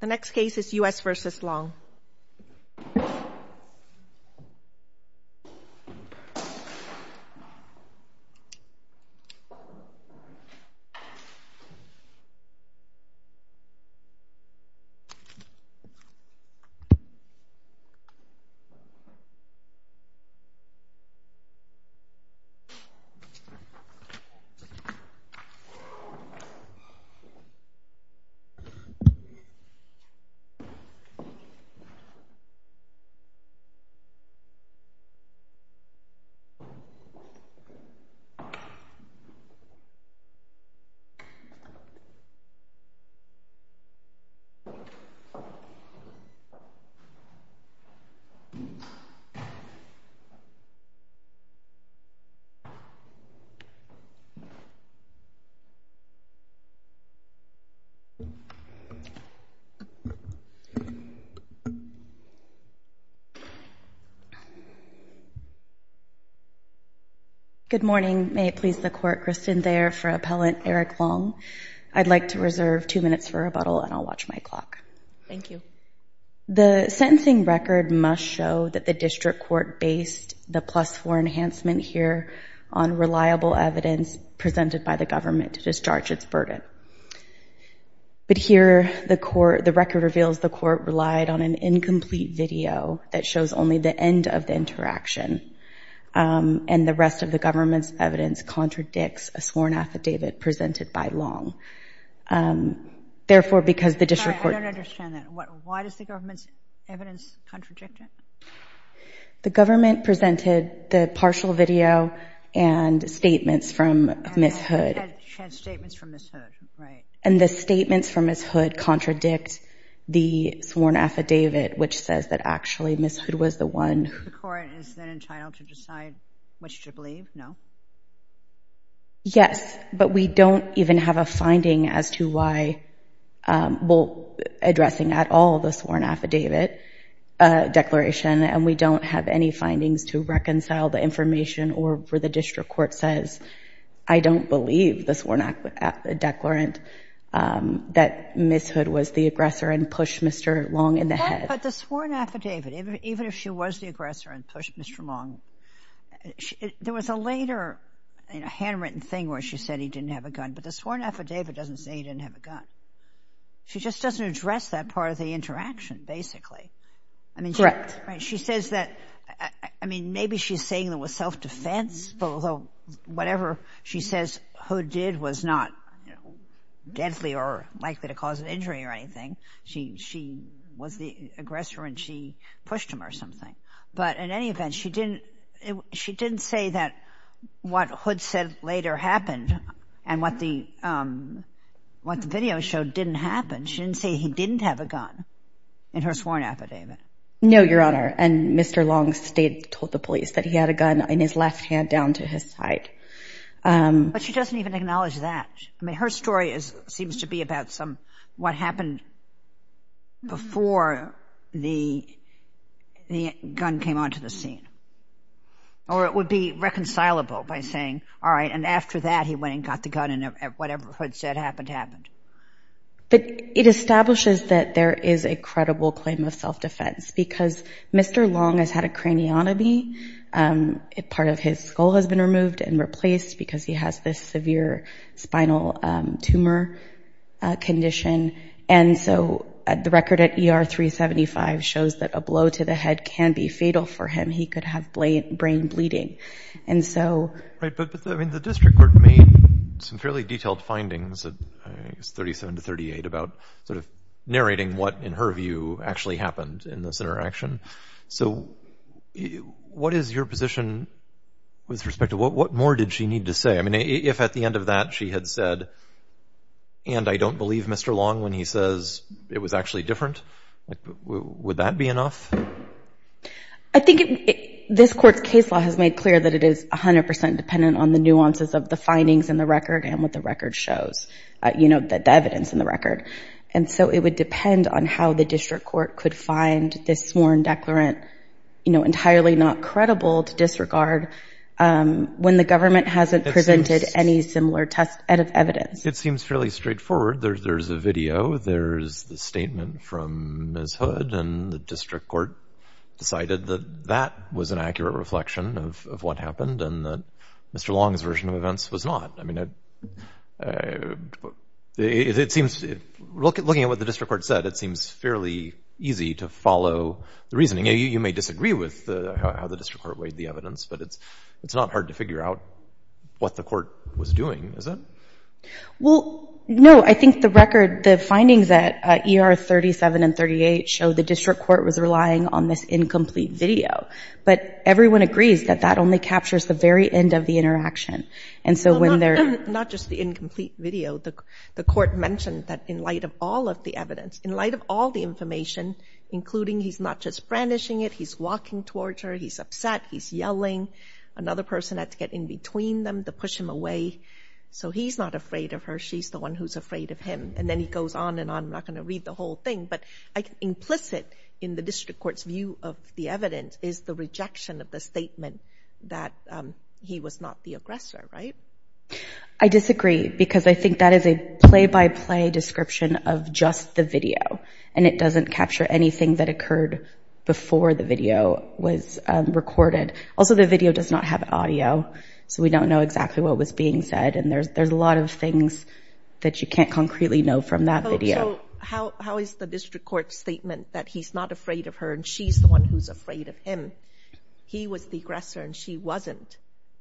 The next case is U.S. v. Long The next case is U.S. v. Long Good morning. May it please the court, Kristen Thayer for appellant Eric Long. I'd like to reserve two minutes for rebuttal and I'll watch my clock. Thank you. The sentencing record must show that the district court based the plus four enhancement here on reliable evidence presented by the government to discharge its burden. But here the court the record reveals the court relied on an incomplete video that shows only the end of the interaction. And the rest of the government's evidence contradicts a sworn affidavit presented by Long. Therefore, because the district court I don't understand that. Why does the government's evidence contradict it? The government presented the partial video and statements from Ms. Hood She had statements from Ms. Hood, right. And the statements from Ms. Hood contradict the sworn affidavit, which says that actually Ms. Hood was the one The court is then entitled to decide which to believe, no? Yes, but we don't even have a finding as to why, well, addressing at all the sworn affidavit declaration and we don't have any findings to reconcile the information or for the district court says, I don't believe the sworn affidavit declarant that Ms. Hood was the aggressor and pushed Mr. Long in the head. But the sworn affidavit, even if she was the aggressor and pushed Mr. Long, there was a later handwritten thing where she said he didn't have a gun, but the sworn affidavit doesn't say he didn't have a gun. She just doesn't address that part of the interaction basically. Correct. She says that, I mean, maybe she's saying it was self-defense, but whatever she says Hood did was not deadly or likely to cause an injury or anything. She was the aggressor and she pushed him or something. But in any event, she didn't say that what Hood said later happened and what the video showed didn't happen. She didn't say he didn't have a gun in her sworn affidavit. No, Your Honor. And Mr. Long told the police that he had a gun in his left hand down to his side. But she doesn't even acknowledge that. I mean, her story seems to be about what happened before the gun came onto the scene. Or it would be reconcilable by saying, all right, and after that he went and got the gun and whatever Hood said happened, happened. But it establishes that there is a credible claim of self-defense because Mr. Long has had a craniotomy. Part of his skull has been removed and replaced because he has this severe spinal tumor condition. And so the record at ER 375 shows that a blow to the head can be fatal for him. He could have brain bleeding. Right. But I mean, the district court made some fairly detailed findings at 37 to 38 about sort of narrating what in her view actually happened in this interaction. So what is your position with respect to what more did she need to say? I mean, if at the end of that she had said, and I don't believe Mr. Long when he says it was actually different, would that be enough? I think this court's case law has made clear that it is 100% dependent on the nuances of the findings in the record and what the record shows, you know, the evidence in the record. And so it would depend on how the district court could find this sworn declarant, you know, entirely not credible to disregard when the government hasn't presented any similar test evidence. It seems fairly straightforward. There's a video, there's the statement from Ms. Hood and the district court decided that that was an accurate reflection of what happened and that Mr. Long's version of events was not. I mean, it seems, looking at what the district court said, it seems fairly easy to follow the reasoning. You may disagree with how the district court weighed the evidence, but it's not hard to figure out what the court was doing, is it? Well, no, I think the record, the findings at ER 37 and 38 show the district court was relying on this incomplete video. But everyone agrees that that only captures the very end of the interaction. And so when they're... Not just the incomplete video, the court mentioned that in light of all of the evidence, in light of all the information, including he's not just brandishing it, he's walking towards her, he's upset, he's yelling, another person had to get in between them to push him away. So he's not afraid of her, she's the one who's afraid of him. And then he goes on and on, I'm not going to read the whole thing, but implicit in the district court's view of the evidence is the rejection of the statement that he was not the aggressor, right? I disagree because I think that is a play-by-play description of just the video and it doesn't capture anything that occurred before the video was recorded. Also, the video does not have audio, so we don't know exactly what was being said and there's a lot of things that you can't concretely know from that video. How is the district court's statement that he's not afraid of her and she's the one who's afraid of him, he was the aggressor and she wasn't,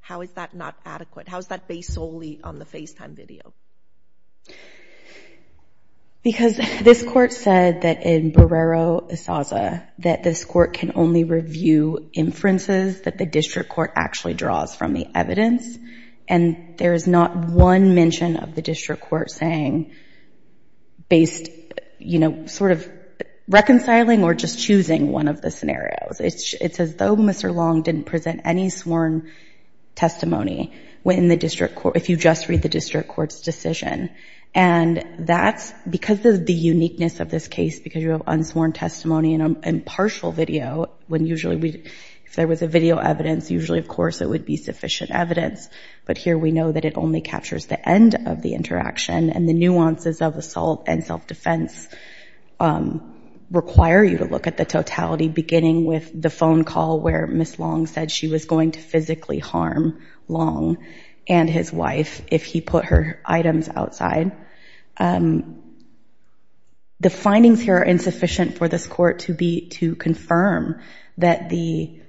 how is that not adequate? How is that based solely on the FaceTime video? Because this court said that in Barrero-Esaza, that this court can only review inferences that the district court actually draws from the evidence and there's not one mention of the district court saying, based, you know, sort of reconciling or just choosing one of the scenarios. It's as though Mr. Long didn't present any sworn testimony when the district court, if you just read the district court's decision. And that's because of the uniqueness of this case, because you have unsworn testimony and impartial video, when usually we, if there was a video evidence, usually, of course, it would be sufficient evidence. But here we know that it only captures the end of the interaction and the nuances of assault and self-defense require you to look at the totality, beginning with the phone call where Ms. Long said she was going to physically harm Long and his wife if he put her items outside. The findings here are insufficient for this court to be, to confirm that the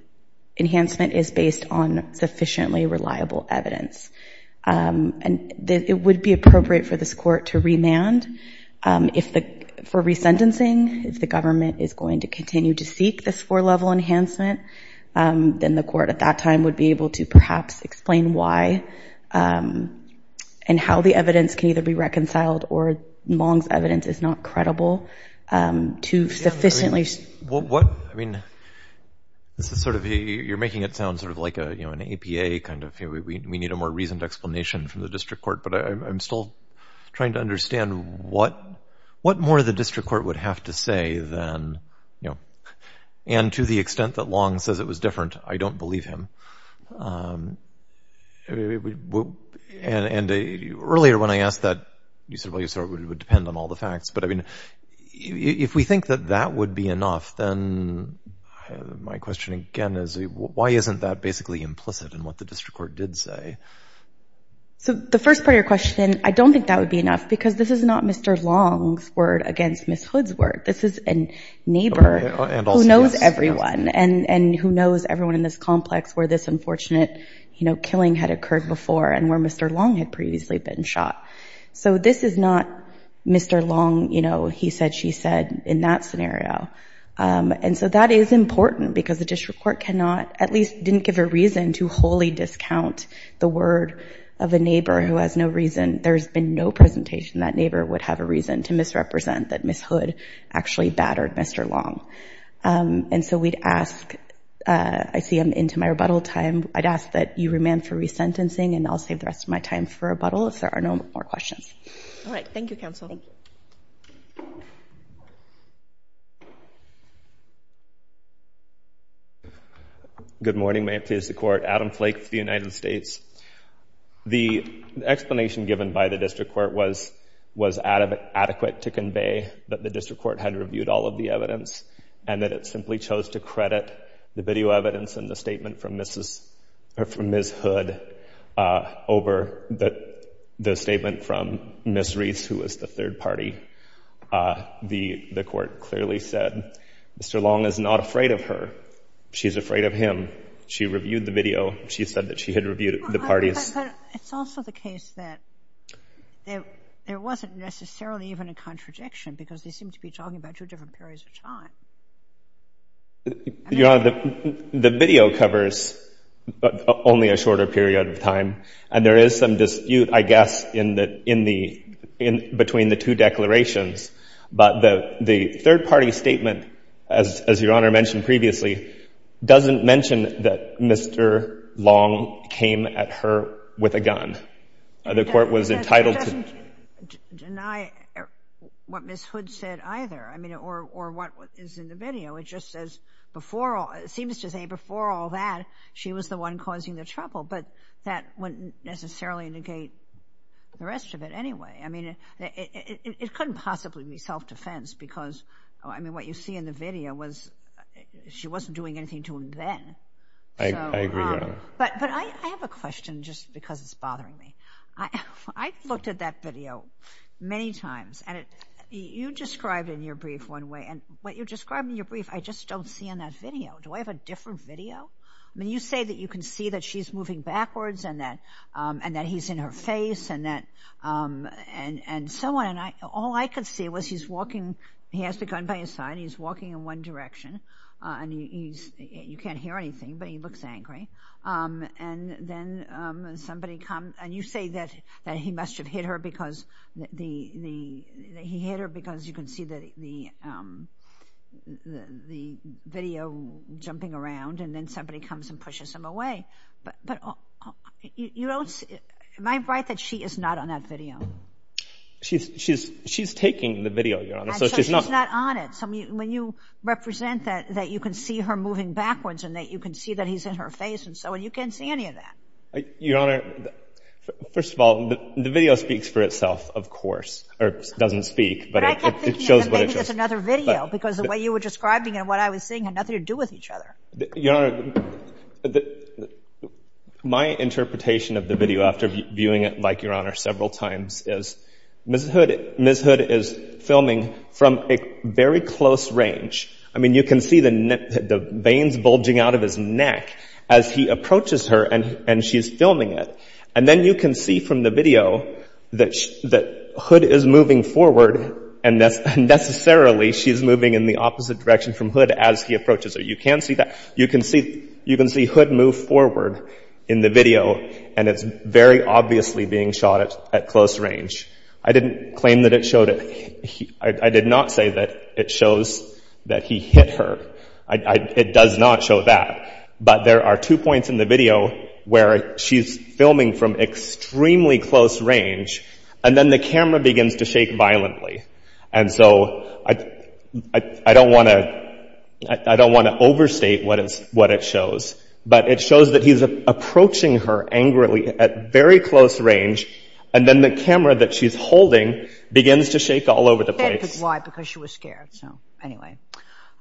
enhancement is based on sufficiently reliable evidence. And it would be appropriate for this court to remand. If the, for resentencing, if the government is going to continue to seek this four-level enhancement, then the court at that time would be able to perhaps explain why and how the evidence can either be reconciled or Long's evidence is not credible to sufficiently – What, I mean, this is sort of, you're making it sound sort of like a, you know, an APA kind of, we need a more reasoned explanation from the district court. But I'm still trying to understand what more the district court would have to say than, you know, and to the extent, and earlier when I asked that, you said it would depend on all the facts. But I mean, if we think that that would be enough, then my question again is, why isn't that basically implicit in what the district court did say? So the first part of your question, I don't think that would be enough because this is not Mr. Long's word against Ms. Hood's word. This is a neighbor who knows everyone and who knows everyone in this complex where this unfortunate, you know, killing had occurred before and where Mr. Long had previously been shot. So this is not Mr. Long, you know, he said, she said in that scenario. And so that is important because the district court cannot, at least didn't give a reason to wholly discount the word of a neighbor who has no reason. There's been no presentation that neighbor would have a reason to misrepresent that Ms. Hood or Mr. Long. And so we'd ask, I see I'm into my rebuttal time. I'd ask that you remand for resentencing and I'll save the rest of my time for rebuttal if there are no more questions. All right. Thank you, counsel. Good morning. May it please the court. Adam Flake for the United States. The explanation given by the district court was adequate to convey that the district court had reviewed all of the evidence and that it simply chose to credit the video evidence and the statement from Mrs. or from Ms. Hood over the statement from Ms. Reese, who was the third party. The court clearly said, Mr. Long is not afraid of her. She's afraid of him. She reviewed the video. She said that she had reviewed the parties. It's also the case that there wasn't necessarily even a contradiction because they seemed to be talking about two different periods of time. Your Honor, the video covers only a shorter period of time. And there is some dispute, I guess, in the, in the, in between the two declarations. But the third party statement, as Your Honor mentioned previously, doesn't mention that Mr. Long came at her with a gun. The court was entitled to deny what Ms. Hood said either. I mean, or, or what is in the video. It just says before all, it seems to say before all that, she was the one causing the trouble. But that wouldn't necessarily negate the rest of it anyway. I mean, it, it, it, it couldn't possibly be self-defense because, I mean, what you see in the video was, she wasn't doing anything I, I agree, Your Honor. But, but I, I have a question just because it's bothering me. I, I've looked at that video many times and it, you described in your brief one way and what you described in your brief, I just don't see in that video. Do I have a different video? I mean, you say that you can see that she's moving backwards and that, and that he's in her face and that, and so on. And I, all I could see was he's walking, he has the gun by his side and he's not, he can't hear anything, but he looks angry. And then somebody comes and you say that, that he must have hit her because the, the, that he hit her because you can see that the, the, the, the video jumping around and then somebody comes and pushes him away. But, but you, you don't, am I right that she is not on that video? She's, she's, she's taking the video, Your Honor. So she's not on it. So when you represent that, that you can see her moving backwards and that you can see that he's in her face and so on, you can't see any of that. Your Honor, first of all, the video speaks for itself, of course, or doesn't speak, but it shows what it shows. I kept thinking that maybe there's another video because the way you were describing it and what I was seeing had nothing to do with each other. Your Honor, the, my interpretation of the video after viewing it like, Your Honor, several times is Ms. Hood, Ms. Hood is filming from a very close range. I mean, you can see the, the veins bulging out of his neck as he approaches her and, and she's filming it. And then you can see from the video that, that Hood is moving forward and that's necessarily she's moving in the opposite direction from Hood as he approaches her. You can see that. You can see, you can see Hood move forward in the video and it's very obviously being shot at, at close range. I didn't claim that it showed it. I did not say that it shows that he hit her. I, I, it does not show that, but there are two points in the video where she's filming from extremely close range and then the camera begins to shake violently. And so I, I, I don't want to, I don't want to overstate what it's, what it shows, but it shows that he's approaching her angrily at very close range. And then the camera that she's holding begins to shake all over the place. Why? Because she was scared. So anyway.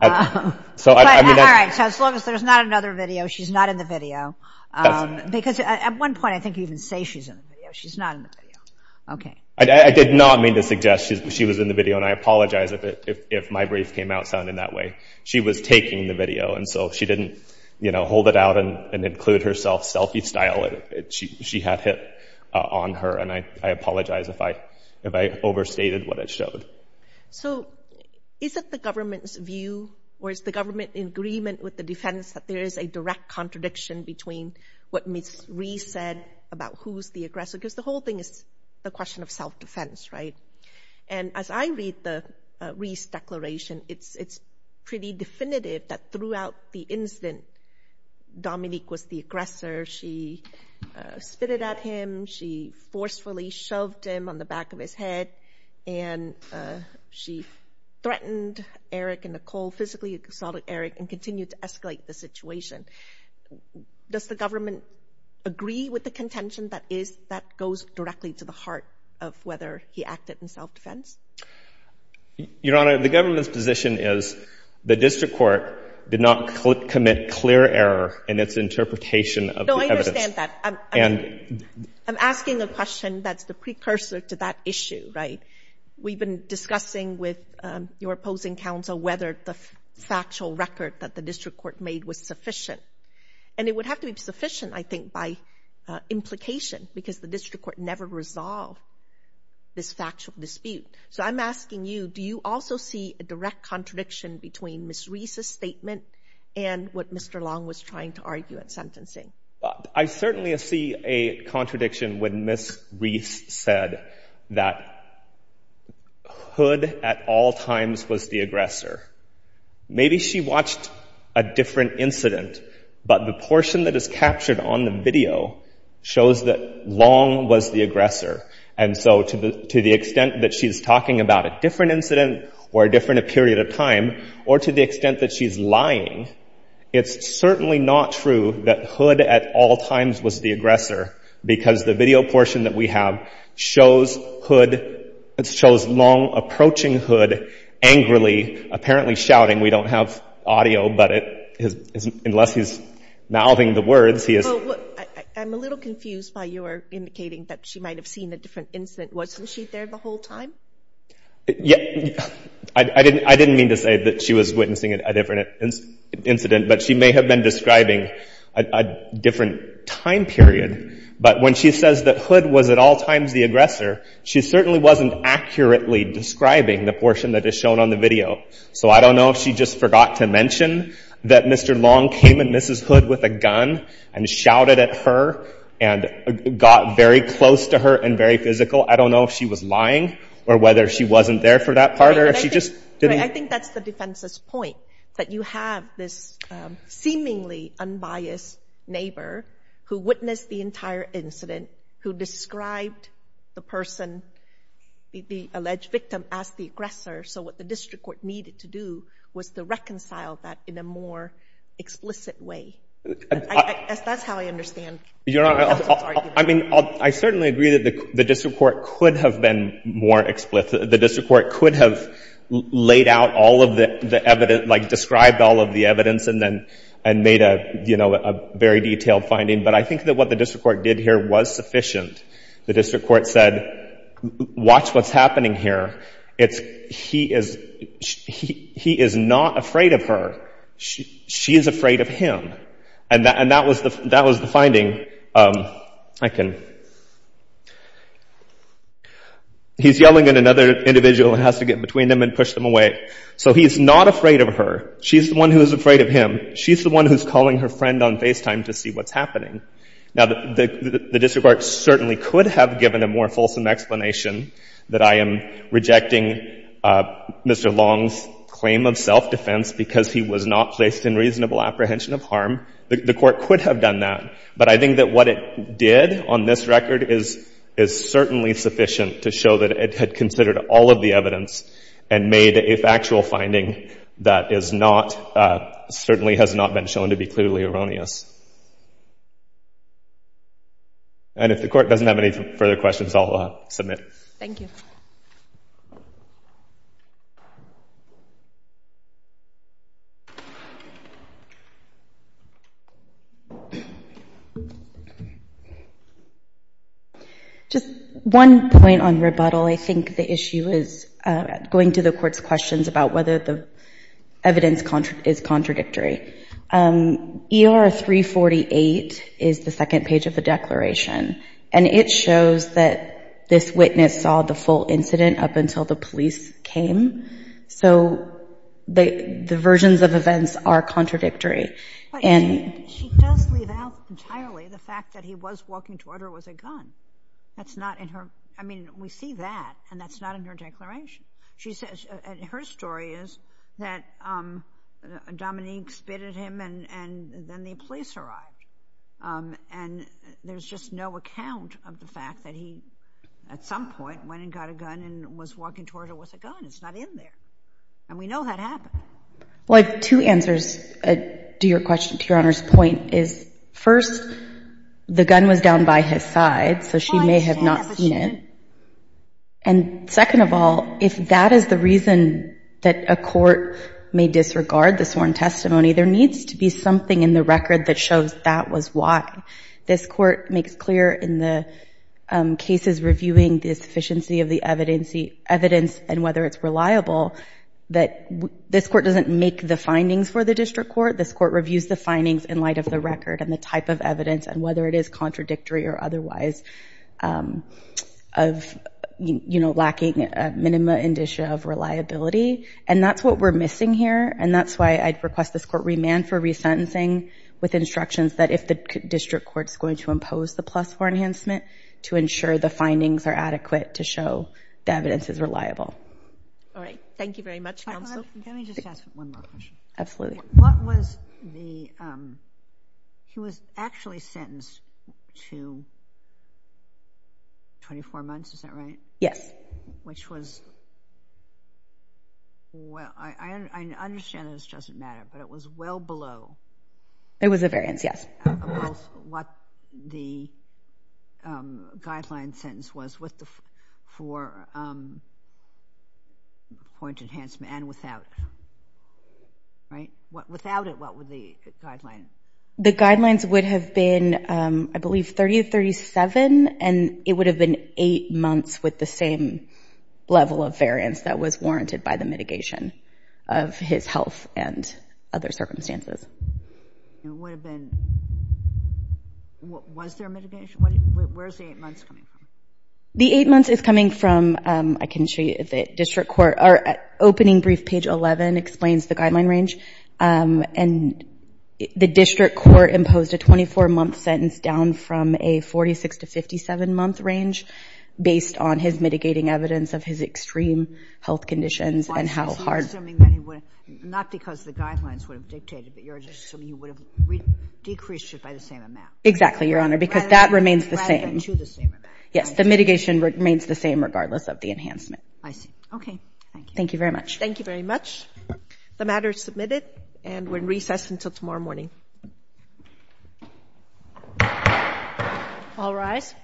So, I, I mean, that's. All right. So as long as there's not another video, she's not in the video. That's, that's. Because at one point, I think you even say she's in the video. She's not in the video. Okay. I, I did not mean to suggest she's, she was in the video and I apologize if it, if, if my brief came out sounding that way. She was taking the video and so she didn't, you know, hold it out and, and include herself selfie style. She, she had it on her and I, I apologize if I, if I overstated what it showed. So, is it the government's view or is the government in agreement with the defense that there is a direct contradiction between what Ms. Reese said about who's the aggressor? Because the whole thing is a question of self-defense, right? And as I read the Reese declaration, it's, it's pretty definitive that throughout the incident, Dominique was the aggressor. She spit it at him. She forcefully shoved him on the back of his head and she threatened Eric and Nicole, physically assaulted Eric and continued to escalate the situation. Does the government agree with the contention that is, that goes directly to the heart of whether he acted in self-defense? Your Honor, the government's position is the district court did not commit clear error in its interpretation of the evidence. No, I understand that. And I'm asking a question that's the precursor to that issue, right? We've been discussing with your opposing counsel whether the factual record that the district court made was sufficient and it would have to be sufficient, I think, by implication because the district court never resolved this factual dispute. So I'm asking you, do you also see a direct contradiction between Ms. Reese's statement and what Mr. Long was trying to argue at sentencing? I certainly see a contradiction when Ms. Reese said that Hood at all times was the aggressor. Maybe she watched a different incident, but the portion that is captured on the video shows that Long was the aggressor. And so to the extent that she's talking about a different incident or a different period of time, or to the extent that she's lying, it's certainly not true that Hood at all times was the aggressor. Because the video portion that we have shows Hood, it shows Long approaching Hood angrily, apparently shouting. We don't have audio, but unless he's mouthing the words, he is- I'm a little confused by your indicating that she might have seen a different incident. Wasn't she there the whole time? Yeah, I didn't mean to say that she was witnessing a different incident, but she may have been describing a different time period. But when she says that Hood was at all times the aggressor, she certainly wasn't accurately describing the portion that is shown on the video. So I don't know if she just forgot to mention that Mr. Long came and Mrs. Hood with a gun and shouted at her and got very close to her and very physical. I don't know if she was lying or whether she wasn't there for that part or if she just didn't- I think that's the defense's point. That you have this seemingly unbiased neighbor who witnessed the entire incident, who described the person, the alleged victim, as the aggressor. So what the district court needed to do was to reconcile that in a more explicit way. That's how I understand- Your Honor, I mean, I certainly agree that the district court could have been more explicit. The district court could have laid out all of the evidence, like described all of the evidence and then made a very detailed finding. But I think that what the district court did here was sufficient. The district court said, watch what's happening here. It's- he is not afraid of her. She is afraid of him. And that was the finding. I can- He's yelling at another individual and has to get between them and push them away. So he's not afraid of her. She's the one who is afraid of him. She's the one who's calling her friend on FaceTime to see what's happening. Now, the district court certainly could have given a more fulsome explanation that I am rejecting Mr. Long's claim of self-defense because he was not placed in reasonable apprehension of harm. The court could have done that. But I think that what it did on this record is certainly sufficient to show that it had considered all of the evidence and made a factual finding that is not certainly has not been shown to be clearly erroneous. And if the court doesn't have any further questions, I'll submit. Thank you. Just one point on rebuttal. I think the issue is going to the court's questions about whether the evidence is contradictory. ER 348 is the second page of the declaration. And it shows that this witness saw the full incident up until the police came. So the versions of events are contradictory. She does leave out entirely the fact that he was walking toward her with a gun. That's not in her- I mean, we see that, and that's not in her declaration. She says- and her story is that Dominique spit at him and then the police arrived. And there's just no account of the fact that he, at some point, went and got a gun and was walking toward her with a gun. It's not in there. And we know that happened. Well, I have two answers to your Honor's point. Is first, the gun was down by his side, so she may have not seen it. And second of all, if that is the reason that a court may disregard the sworn testimony, there needs to be something in the record that shows that was why. This court makes clear in the cases reviewing the sufficiency of the evidence and whether it's reliable that this court doesn't make the findings for the district court. This court reviews the findings in light of the record and the type of evidence and whether it is contradictory or otherwise of, you know, lacking a minima indicia of reliability. And that's what we're missing here. And that's why I'd request this court remand for resentencing with instructions that if the district court's going to impose the plus for enhancement to ensure the findings are adequate to show the evidence is reliable. All right. Thank you very much, Counsel. Can I just ask one more question? Absolutely. What was the, he was actually sentenced to 24 months, is that right? Yes. Which was, well, I understand that this doesn't matter, but it was well below. It was a variance, yes. What the guideline sentence was for point enhancement and without, right? Without it, what were the guidelines? The guidelines would have been, I believe, 30 to 37, and it would have been 8 months with the same level of variance that was warranted by the mitigation of his health and other circumstances. It would have been, was there mitigation? Where's the 8 months coming from? The 8 months is coming from, I can show you the district court, our opening brief, page 11, explains the guideline range. And the district court imposed a 24-month sentence down from a 46 to 57-month range based on his mitigating evidence of his extreme health conditions and how hard. I'm assuming not because the guidelines would have dictated, but you're assuming you would have decreased it by the same amount. Exactly, Your Honor, because that remains the same. Rather than to the same amount. Yes, the mitigation remains the same regardless of the enhancement. I see. Okay, thank you. Thank you very much. Thank you very much. The matter is submitted, and we're in recess until tomorrow morning. All rise.